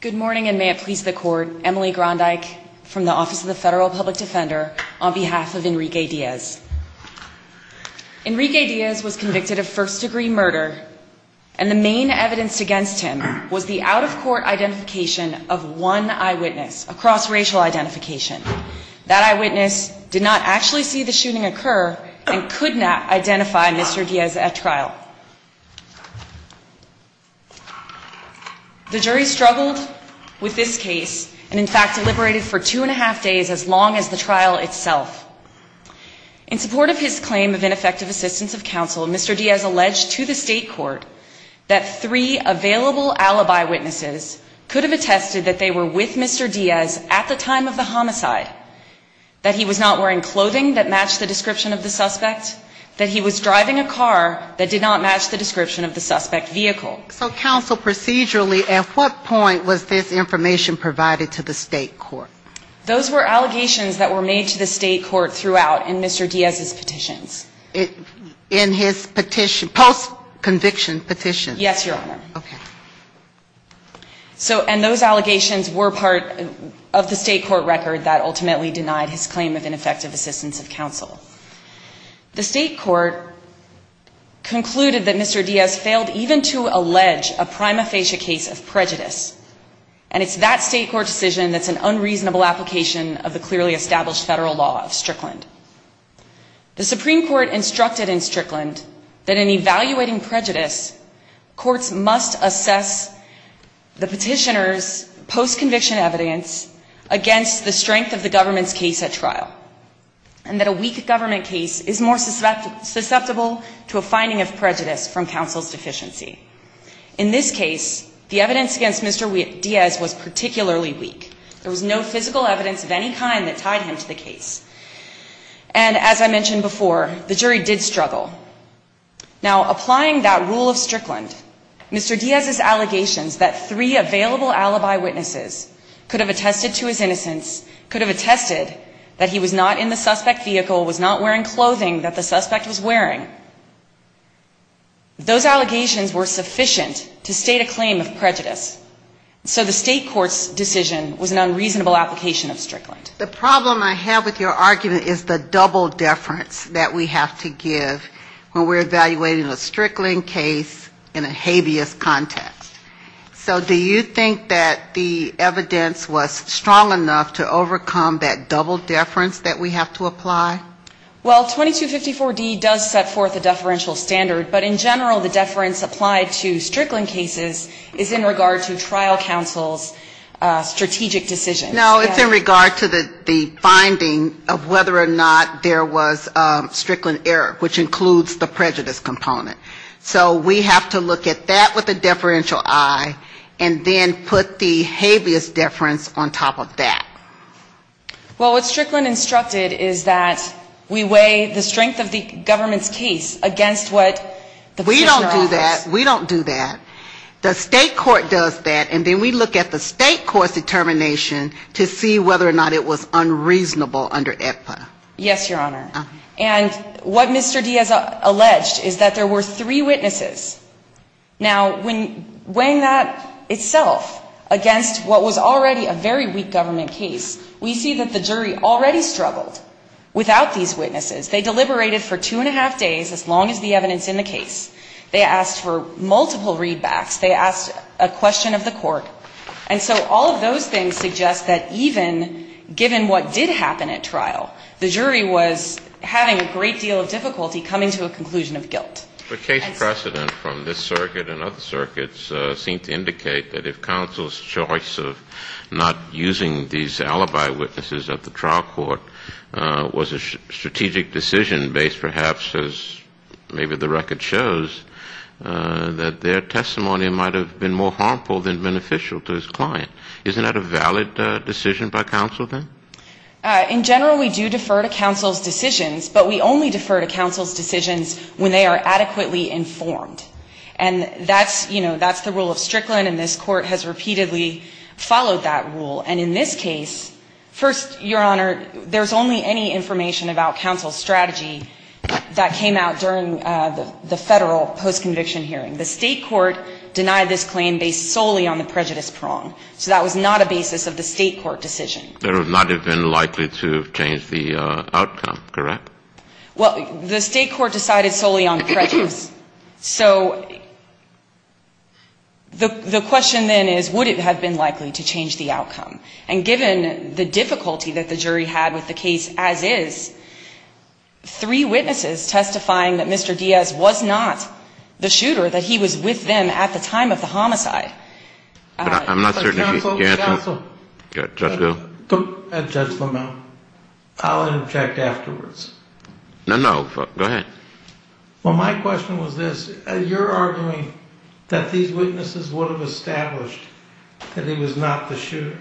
Good morning and may it please the court, Emily Grondyke from the Office of the Federal Public Defender on behalf of Enrique Diaz. Enrique Diaz was convicted of first-degree murder and the main evidence against him was the out-of-court identification of one eyewitness, a cross-racial identification. That eyewitness did not actually see the shooting occur and could not identify Mr. Diaz at trial. The jury struggled with this case and in fact deliberated for two and a half days as long as the trial itself. In support of his claim of ineffective assistance of counsel, Mr. Diaz alleged to the state court that three available alibi witnesses could have attested that they were with Mr. Diaz at the time of the suspect, that he was driving a car that did not match the description of the suspect vehicle. So counsel, procedurally at what point was this information provided to the state court? Those were allegations that were made to the state court throughout in Mr. Diaz's petitions. In his petition, post-conviction petitions? Yes, Your Honor. So and those allegations were part of the state court record that ultimately denied his claim of ineffective assistance of counsel. The state court concluded that Mr. Diaz failed even to allege a prima facie case of prejudice. And it's that state court decision that's an unreasonable application of the clearly established federal law of Strickland. The Supreme Court instructed in Strickland that in evaluating prejudice, courts must assess the petitioner's post-conviction evidence against the strength of the government's case at trial. And that a weak government case is more susceptible to a finding of prejudice from counsel's deficiency. In this case, the evidence against Mr. Diaz was particularly weak. There was no physical evidence of any kind that tied him to the case. And as I mentioned before, the jury did struggle. Now applying that rule of Strickland, Mr. Diaz's allegations that three available alibi witnesses could have attested to his innocence, could have attested that he was not in the suspect's vehicle, was not wearing clothing that the suspect was wearing, those allegations were sufficient to state a claim of prejudice. So the state court's decision was an unreasonable application of Strickland. The problem I have with your argument is the double deference that we have to give when we're evaluating a Strickland case in a habeas context. So do you think that the evidence was strong enough to overcome that double deference that we have to apply? Well, 2254-D does set forth a deferential standard. But in general, the deference applied to Strickland cases is in regard to trial counsel's strategic decisions. No, it's in regard to the finding of whether or not there was a Strickland error, which includes the prejudice component. So we have to look at that with a deferential eye, and then put the habeas deference on top of that. Well, what Strickland instructed is that we weigh the strength of the government's case against what the petitioner offers. We don't do that. We don't do that. The state court does that, and then we look at the state court's determination to see whether or not it was unreasonable under AEDPA. Yes, Your Honor. And what Mr. D has alleged is that there were three witnesses. Now, when weighing that itself against what was already a very weak government case, we see that the jury already struggled without these witnesses. They deliberated for two and a half days, as long as the evidence in the case. They asked for multiple readbacks. They asked a question of the court. And so all of those things suggest that even given what did happen at trial, the jury was having a great deal of difficulty coming to a conclusion of guilt. But case precedent from this circuit and other circuits seem to indicate that if counsel's choice of not using these alibi witnesses at the trial court was a strategic decision based perhaps, as maybe the record shows, that their testimony might have been more of a valid decision by counsel then? In general, we do defer to counsel's decisions, but we only defer to counsel's decisions when they are adequately informed. And that's, you know, that's the rule of Strickland, and this Court has repeatedly followed that rule. And in this case, first, Your Honor, there's only any information about counsel's strategy that came out during the Federal post-conviction hearing. The state court denied this claim based solely on the prejudice prong. So that was not a basis of the state court decision. There would not have been likely to have changed the outcome, correct? Well, the state court decided solely on prejudice. So the question then is would it have been likely to change the outcome? And given the difficulty that the jury had with the case as is, three witnesses testifying that Mr. Diaz was not the shooter, that he was with them at the time of the homicide. But I'm not certain he... But counsel, counsel. Judge Hill? Judge Lamont, I'll interject afterwards. No, no, go ahead. Well, my question was this. You're arguing that these witnesses would have established that he was not the shooter.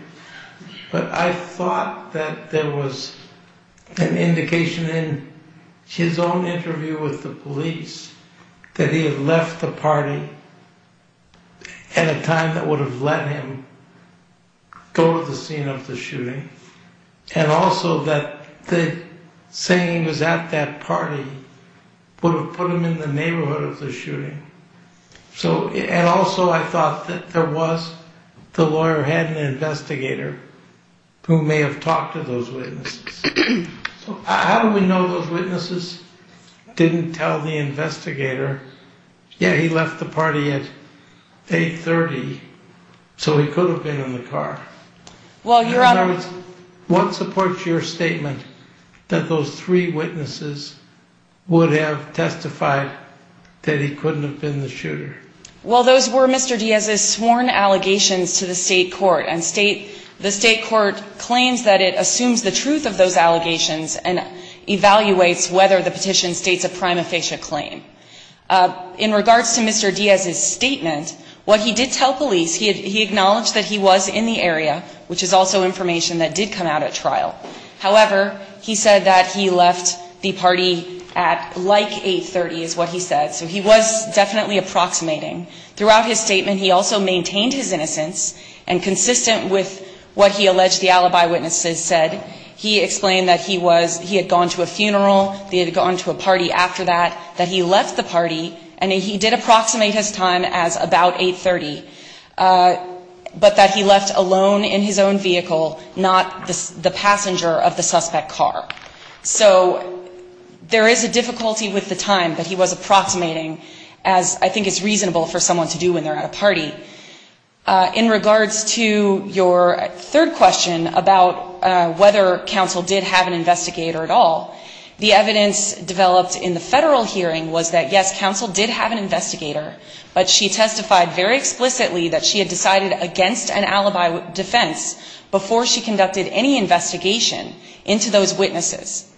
But I thought that there was an indication in his own interview with the police that he had left the party at a time that would have let him go to the scene of the shooting. And also that the saying he was at that party would have put him in the neighborhood of the shooting. So, and also I thought that there was, the lawyer had an investigator who may have talked to those witnesses. How do we know those witnesses didn't tell the investigator, yeah, he left the party at 8.30, so he could have been in the car? Well, Your Honor... In other words, what supports your statement that those three witnesses would have testified that he couldn't have been the shooter? Well, those were Mr. Diaz's sworn allegations to the state court. And the state court claims that it assumes the truth of those allegations and evaluates whether the petition states a prima facie claim. In regards to Mr. Diaz's statement, what he did tell police, he acknowledged that he was in the area, which is also information that did come out at trial. However, he said that he left the party at like 8.30 is what he said. So he was definitely approximating. Throughout his statement, he also said, he explained that he was, he had gone to a funeral, he had gone to a party after that, that he left the party, and he did approximate his time as about 8.30, but that he left alone in his own vehicle, not the passenger of the suspect car. So there is a difficulty with the time that he was approximating, as I think is reasonable for someone to do when they're at a party. In regards to your third question about whether counsel did have an investigator at all, the evidence developed in the federal hearing was that, yes, counsel did have an investigator, but she testified very explicitly that she had decided against an alibi defense before she conducted any investigation into those witnesses.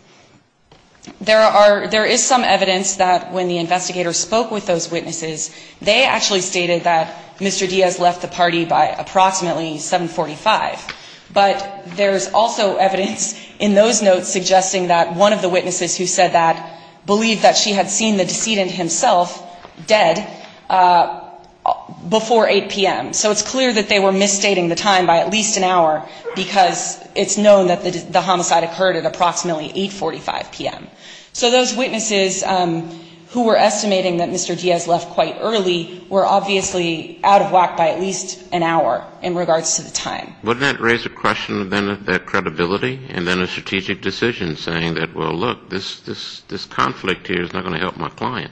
There are, there is some evidence that when the investigator spoke with those witnesses, they actually stated that Mr. Diaz left the party by approximately 7.45. But there's also evidence in those notes suggesting that one of the witnesses who said that believed that she had seen the decedent himself dead before 8 p.m. So it's clear that they were misstating the time by at least an hour, because it's known that the homicide occurred at approximately 8.45 p.m. So those witnesses who were estimating that Mr. Diaz left quite early were obviously out of whack by at least an hour in regards to the time. Would that raise a question then of their credibility and then a strategic decision saying that, well, look, this conflict here is not going to help my client?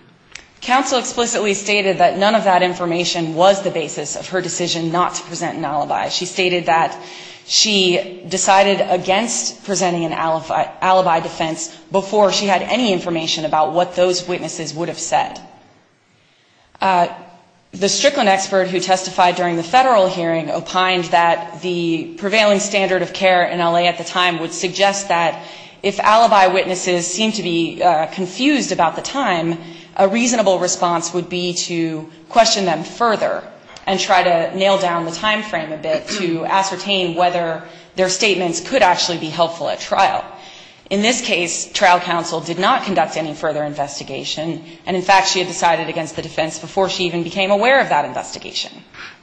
Counsel explicitly stated that none of that information was the basis of her decision not to present an alibi. She stated that she decided against presenting an alibi defense before she had any information about what those witnesses would have said. The Strickland expert who testified during the Federal hearing opined that the prevailing standard of care in L.A. at the time would suggest that if alibi witnesses seemed to be confused about the time, a reasonable response would be to drill down the time frame a bit to ascertain whether their statements could actually be helpful at trial. In this case, trial counsel did not conduct any further investigation, and in fact, she had decided against the defense before she even became aware of that investigation.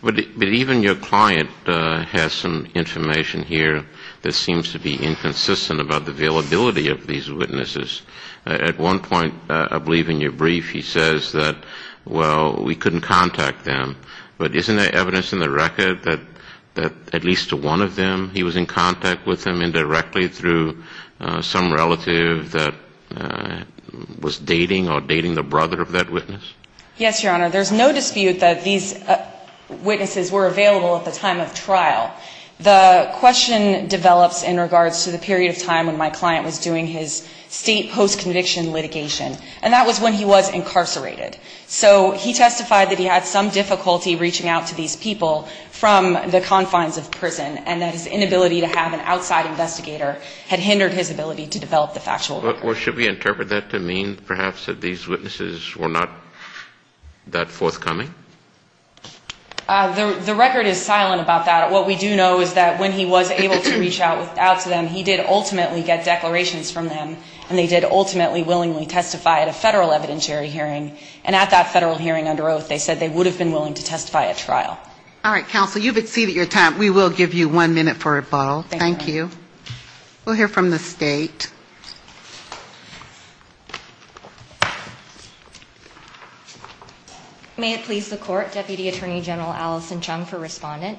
But even your client has some information here that seems to be inconsistent about the availability of these witnesses. At one point, I believe in your brief, he says that, well, we couldn't contact them. But isn't there evidence in the record that at least one of them, he was in contact with them indirectly through some relative that was dating or dating the brother of that witness? Yes, Your Honor. There's no dispute that these witnesses were available at the time of trial. The question develops in regards to the period of time when my client was doing his state post-conviction litigation, and that was when he was incarcerated. So he testified that he had some difficulty reaching out to these people from the confines of prison and that his inability to have an outside investigator had hindered his ability to develop the factual record. Or should we interpret that to mean perhaps that these witnesses were not that forthcoming? The record is silent about that. What we do know is that when he was able to reach out to them, he did ultimately get declarations from them, and they did ultimately willingly testify at a federal evidentiary hearing. And at that federal hearing under oath, they said they would have been willing to testify at trial. All right. Counsel, you've exceeded your time. We will give you one minute for a bottle. Thank you. We'll hear from the State. May it please the Court, Deputy Attorney General Allison Chung for Respondent.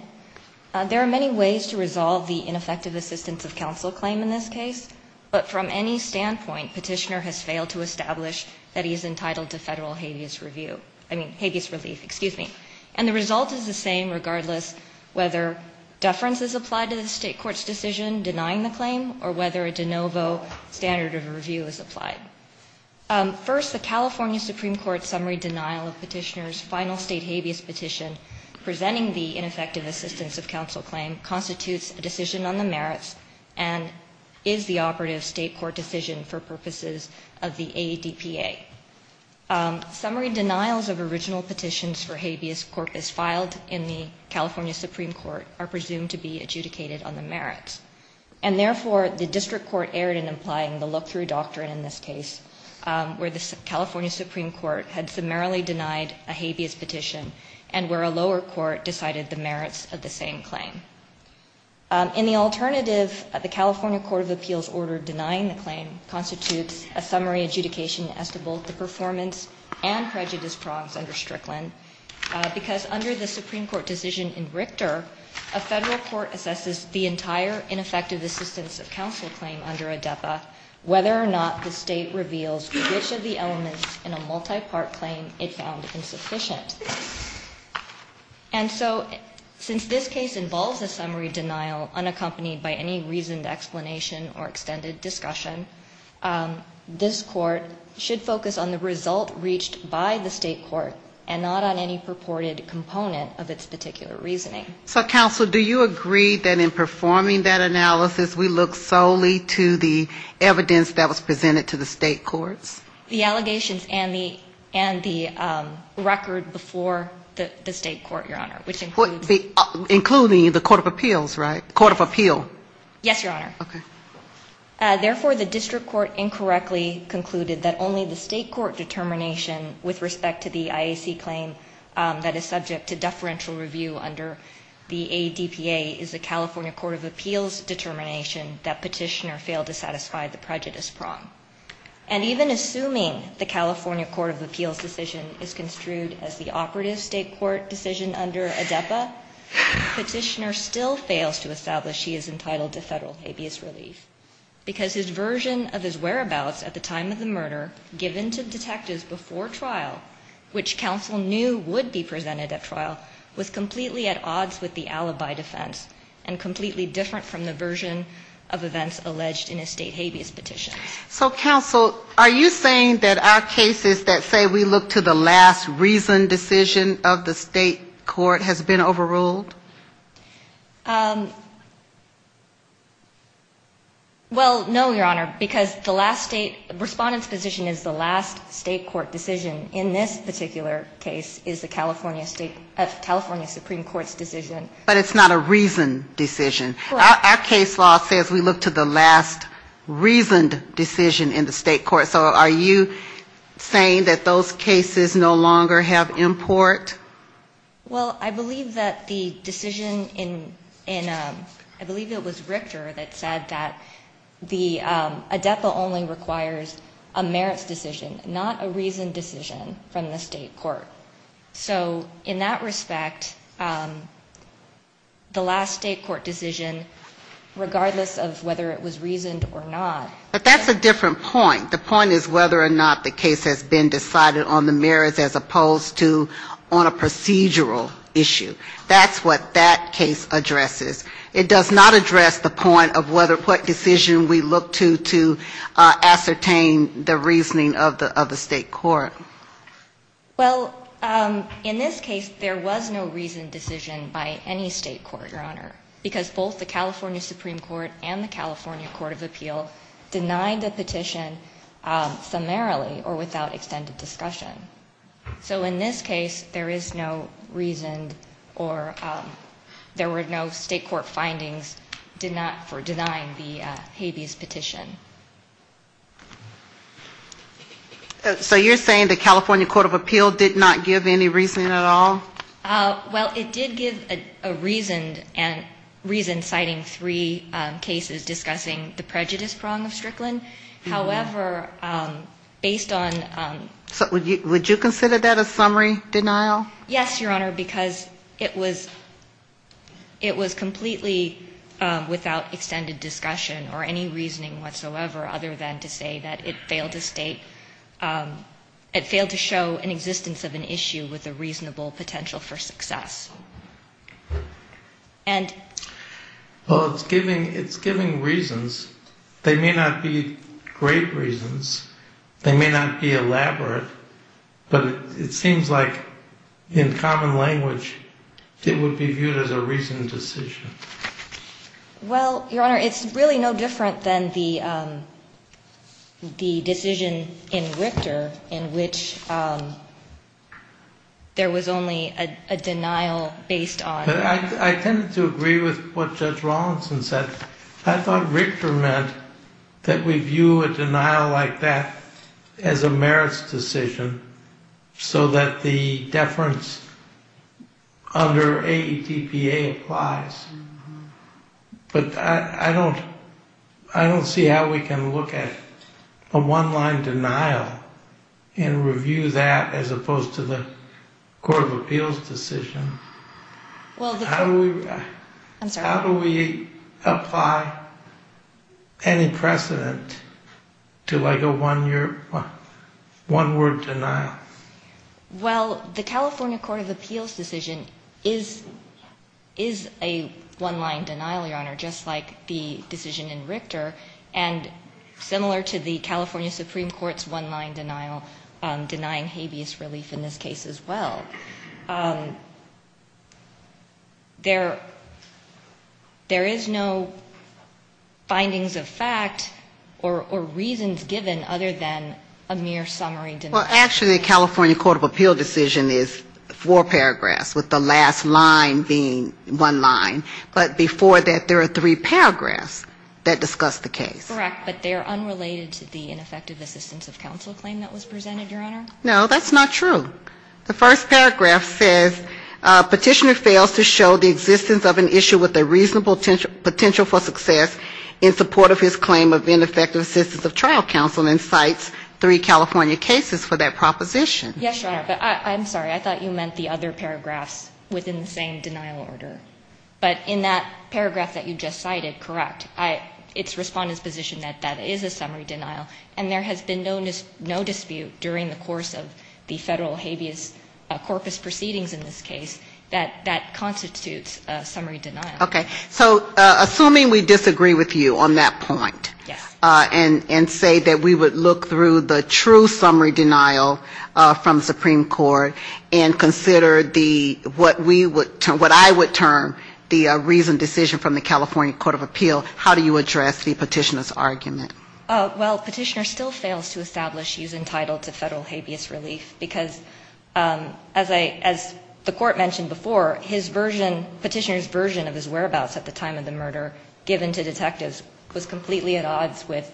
There are many ways to resolve the ineffective assistance of counsel claim in this case, but from any standpoint, Petitioner has failed to establish that he is entitled to federal habeas review, I mean, habeas relief. Excuse me. And the result is the same regardless whether deference is applied to the State Court's decision denying the claim or whether a de novo standard of review is applied. First, the California Supreme Court summary denial of Petitioner's final State habeas petition presenting the ineffective assistance of counsel claim constitutes a decision on the merits and is the operative State court decision for purposes of the ADPA. Summary denials of original petitions for habeas corpus filed in the California Supreme Court are presumed to be adjudicated on the merits. And therefore, the district court erred in implying the look-through doctrine in this case where the California Supreme Court had summarily denied a habeas petition and where a lower court decided the merits of the same claim. In the alternative, the California Court of Appeals order denying the claim constitutes a summary adjudication as to both the performance and prejudice prongs under Strickland because under the Supreme Court decision in Richter, a federal court assesses the entire ineffective assistance of counsel claim under ADPA, whether or not the State reveals which of the elements in a multi-part claim it found insufficient. And so since this case involves a summary denial unaccompanied by any reasoned explanation or extended discussion, this Court should focus on the result reached by the State court and not on any purported component of its particular reasoning. So counsel, do you agree that in performing that analysis, we look solely to the evidence that was presented to the State courts? The allegations and the record before the State court, Your Honor, which includes Including the Court of Appeals, right? Court of Appeal. Yes, Your Honor. Therefore, the District Court incorrectly concluded that only the State court determination with respect to the IAC claim that is subject to deferential review under the ADPA is the California Court of Appeals determination that petitioner failed to satisfy the prejudice prong. And even assuming the California Court of Appeals decision is construed as the operative State court decision under ADEPA, petitioner still fails to establish he is entitled to federal habeas relief. Because his version of his whereabouts at the time of the murder given to detectives before trial, which counsel knew would be presented at trial, was completely at odds with the alibi defense and completely different from the version of events alleged in a State habeas petition. So, counsel, are you saying that our cases that say we look to the last reasoned decision of the State court has been overruled? Well, no, Your Honor, because the last State respondent's decision is the last State court decision. In this particular case is the California Supreme Court's decision. But it's not a reasoned decision. So are you saying that those cases no longer have import? Well, I believe that the decision in, I believe it was Richter that said that the ADEPA only requires a merits decision, not a reasoned decision from the State court. So in that respect, the last State court decision, regardless of whether it was reasoned decision or not. But that's a different point. The point is whether or not the case has been decided on the merits as opposed to on a procedural issue. That's what that case addresses. It does not address the point of what decision we look to to ascertain the reasoning of the State court. Well, in this case, there was no reasoned decision by any State court, Your Honor, because both the California Supreme Court and the California Court of Appeal denied the petition summarily or without extended discussion. So in this case, there is no reasoned or there were no State court findings denying the habeas petition. So you're saying the California Court of Appeal did not give any reasoning at all? Well, it did give a reasoned and reasoned citing three cases discussing the prejudice prong of Strickland. However, based on... So would you consider that a summary denial? Yes, Your Honor, because it was completely without extended discussion or any reasoning whatsoever other than to say that it failed to state, it failed to show an existence of an issue with a reasonable potential for success. And... Well, it's giving reasons. They may not be great reasons. They may not be elaborate. But it seems like in common language, it would be viewed as a reasoned decision. Well, Your Honor, it's really no different than the decision in Richter in which there was only a denial based on... I tend to agree with what Judge Rawlinson said. I thought Richter meant that we view a denial like that as a merits decision so that the deference under AETPA applies. But I don't see how we can look at a one-line denial and review that as opposed to the Court of Appeals decision. How do we... I'm sorry. How do we apply any precedent to like a one-word denial? Well, the California Court of Appeals decision is a one-line denial, Your Honor, just like the decision in Richter and similar to the California Supreme Court's one-line denial denying habeas relief in this case as well. There is no findings of fact or reasons given other than a mere summary denial. Well, actually, the California Court of Appeals decision is four paragraphs with the last line being one line. But before that, there are three paragraphs that discuss the case. Correct. But they are unrelated to the ineffective assistance of counsel claim that was presented, Your Honor? No, that's not true. The first paragraph says, Petitioner fails to show the existence of an issue with a reasonable potential for success in support of his claim of ineffective assistance of trial counsel and cites three California cases for that proposition. Yes, Your Honor, but I'm sorry. I thought you meant the other paragraphs within the same denial order. But in that paragraph that you just cited, correct, it's Respondent's position that that is a summary denial, and there has been no dispute during the course of the Federal habeas corpus proceedings in this case that that constitutes a summary denial. Okay. So assuming we disagree with you on that point and say that we would look through the true summary denial from the Supreme Court and consider the, what we would, what I would term the reasoned decision from the California Court of Appeals, how do you address the Petitioner's argument? Well, Petitioner still fails to establish he's entitled to Federal habeas relief, because as I, as the Court mentioned before, his version, Petitioner's version of his whereabouts at the time of the murder given to detectives was completely at odds with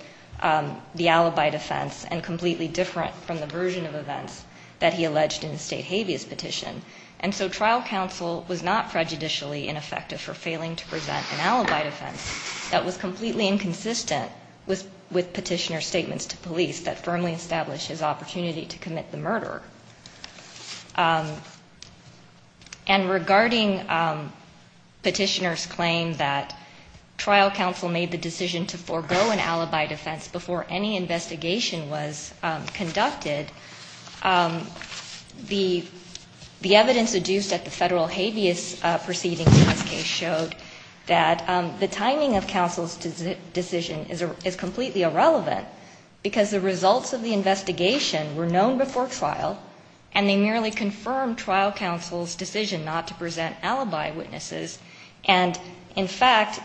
the alibi defense and completely different from the version of events that he alleged in the State habeas petition. And so trial counsel was not prejudicially ineffective for failing to present an alibi defense that was completely inconsistent with Petitioner's statements to police that firmly established his opportunity to commit the murder. And regarding Petitioner's claim that trial counsel made the decision to forego an alibi defense before any investigation was conducted, the evidence adduced at the Federal habeas proceedings in this case showed that the timing of counsel's decision is completely irrelevant, because the results of the investigation were known before trial, and they merely confirmed trial counsel's decision not to present alibi witnesses. And in fact,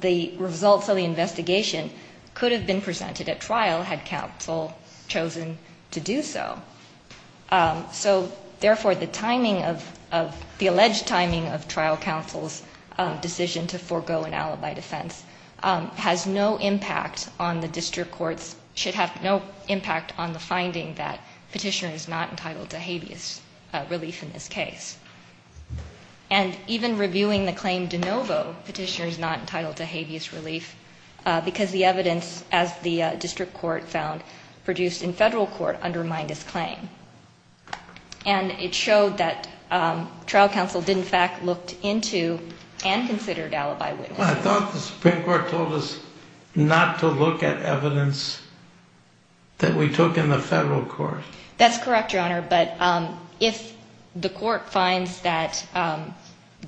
the results of the investigation could have been presented at trial had counsel chosen to do so. So therefore, the timing of, the alleged timing of trial counsel's decision to forego an alibi defense has no impact on the district court's, should have no impact on the finding that Petitioner is not entitled to habeas relief in this case. And even reviewing the claim de novo, Petitioner is not entitled to habeas relief because the evidence, as the district court found, produced in Federal court undermined his claim. And it showed that trial counsel did in fact look into and considered alibi defense before he presented an alibi witness. I thought the Supreme Court told us not to look at evidence that we took in the Federal court. That's correct, Your Honor, but if the court finds that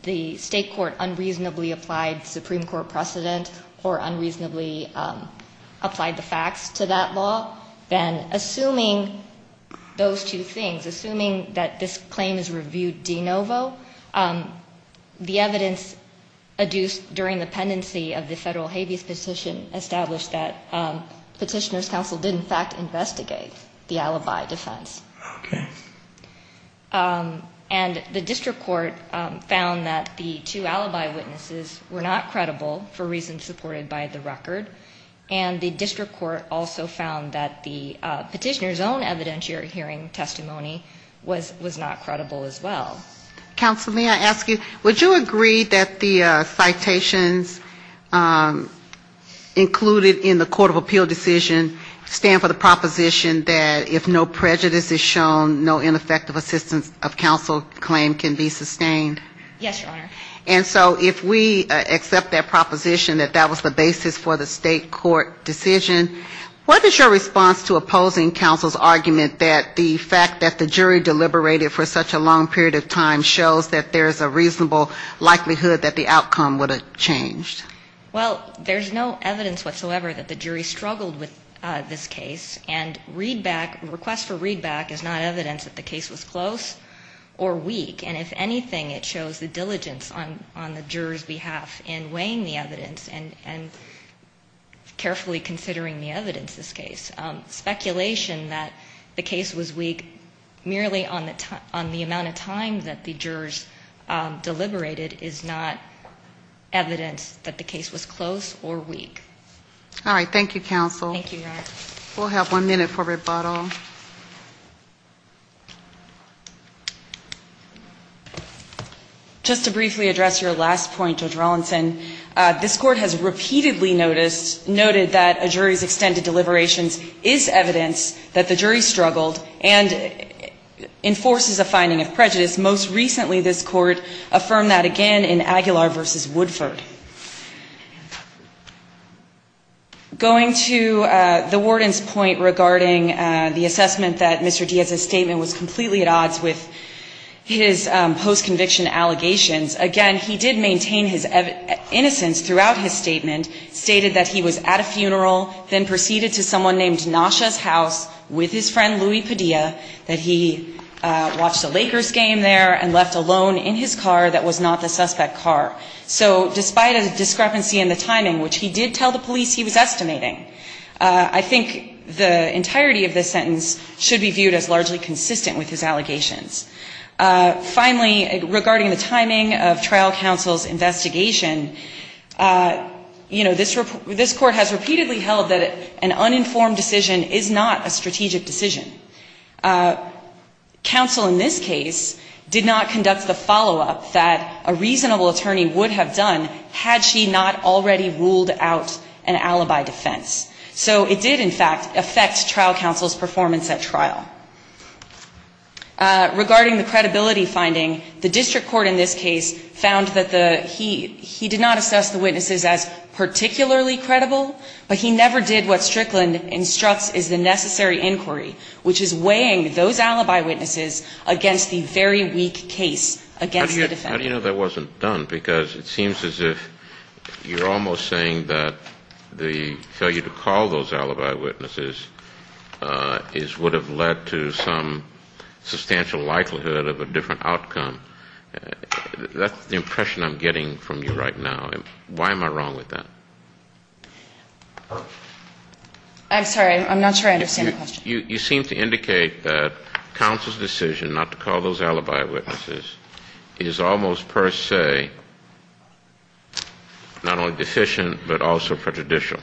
the state court unreasonably applied Supreme Court precedent or unreasonably applied the facts to that law, then assuming those two things, assuming that this claim is reviewed de novo, the evidence adduced during the pendency of the Federal habeas petition established that Petitioner's counsel did in fact investigate the alibi defense. And the district court found that the two alibi witnesses were not credible for reasons supported by the record. And the district court also found that the Petitioner's own evidentiary hearing testimony was not credible as well. Counsel, may I ask you, would you agree that the citations included in the court of appeal decision stand for the proposition that if no prejudice is shown, no ineffective assistance of counsel claim can be sustained? Yes, Your Honor. And so if we accept that proposition that that was the basis for the state court decision, what is your response to opposing counsel's argument that the fact that the jury deliberated for such a long period of time shows that there is a reasonable likelihood that the outcome would have changed? Well, there's no evidence whatsoever that the jury struggled with this case. And readback, request for readback is not evidence that the case was close or weak. And if anything, it shows the diligence on the juror's behalf in weighing the evidence and carefully considering the evidence of this case. Speculation that the case was weak merely on the amount of time that the jurors deliberated is not evidence that the case was close or weak. All right. Thank you, counsel. Thank you, Your Honor. We'll have one minute for rebuttal. Just to briefly address your last point, Judge Rawlinson, this court has repeatedly noted that a jury's extended deliberations is evidence that the jury struggled and enforces a finding of a reasonable likelihood that the case was close or weak. Going to the warden's point regarding the assessment that Mr. Diaz's statement was completely at odds with his post-conviction allegations, again, he did maintain his innocence throughout his statement, stated that he was at a funeral, then proceeded to someone named Mr. Diaz, and then to the police he was estimating. I think the entirety of this sentence should be viewed as largely consistent with his allegations. Finally, regarding the timing of trial counsel's investigation, you know, this court has repeatedly held that an uninformed decision is not a strategic decision. Counsel in this case did not conduct the follow-up that a reasonable attorney would have done had she not already ruled out an alibi defense. So it did, in fact, affect trial counsel's performance at trial. Regarding the credibility finding, the district court in this case found that he did not assess the witnesses as particularly credible, but he never did what Strickland instructs is the necessary inquiry, which is weighing those alibi witnesses against the very weak case against the defendant. How do you know that wasn't done? Because it seems as if you're almost saying that the failure to call those alibi witnesses would have led to some substantial likelihood of a different outcome. That's the impression I'm getting from you right now. Why am I wrong with that? I'm sorry. I'm not sure I understand the question. You seem to indicate that counsel's decision not to call those alibi witnesses is almost per se not only deficient but also prejudicial,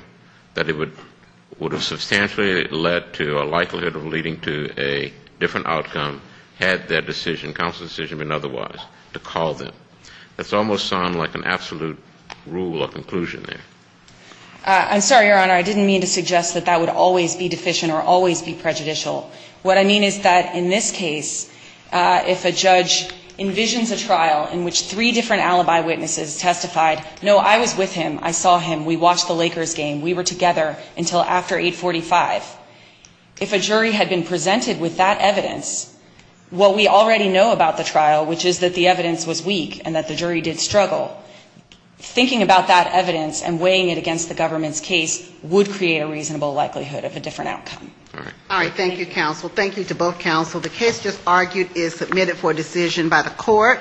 that it would have substantially led to a likelihood of leading to a different outcome had their decision, counsel's decision been otherwise, to call them. That's almost sound like an absolute rule or conclusion there. I'm sorry, Your Honor. I didn't mean to suggest that that would always be deficient or always be prejudicial. What I mean is that in this case, if a judge envisions a trial in which three different alibi witnesses testified, no, I was with him, I saw him, we watched the Lakers game, we were together until after 845, if a jury had been presented with that evidence, what we already know about the trial, which is that the government's case would create a reasonable likelihood of a different outcome. All right. Thank you, counsel. Thank you to both counsel. The case just argued is submitted for decision by the court.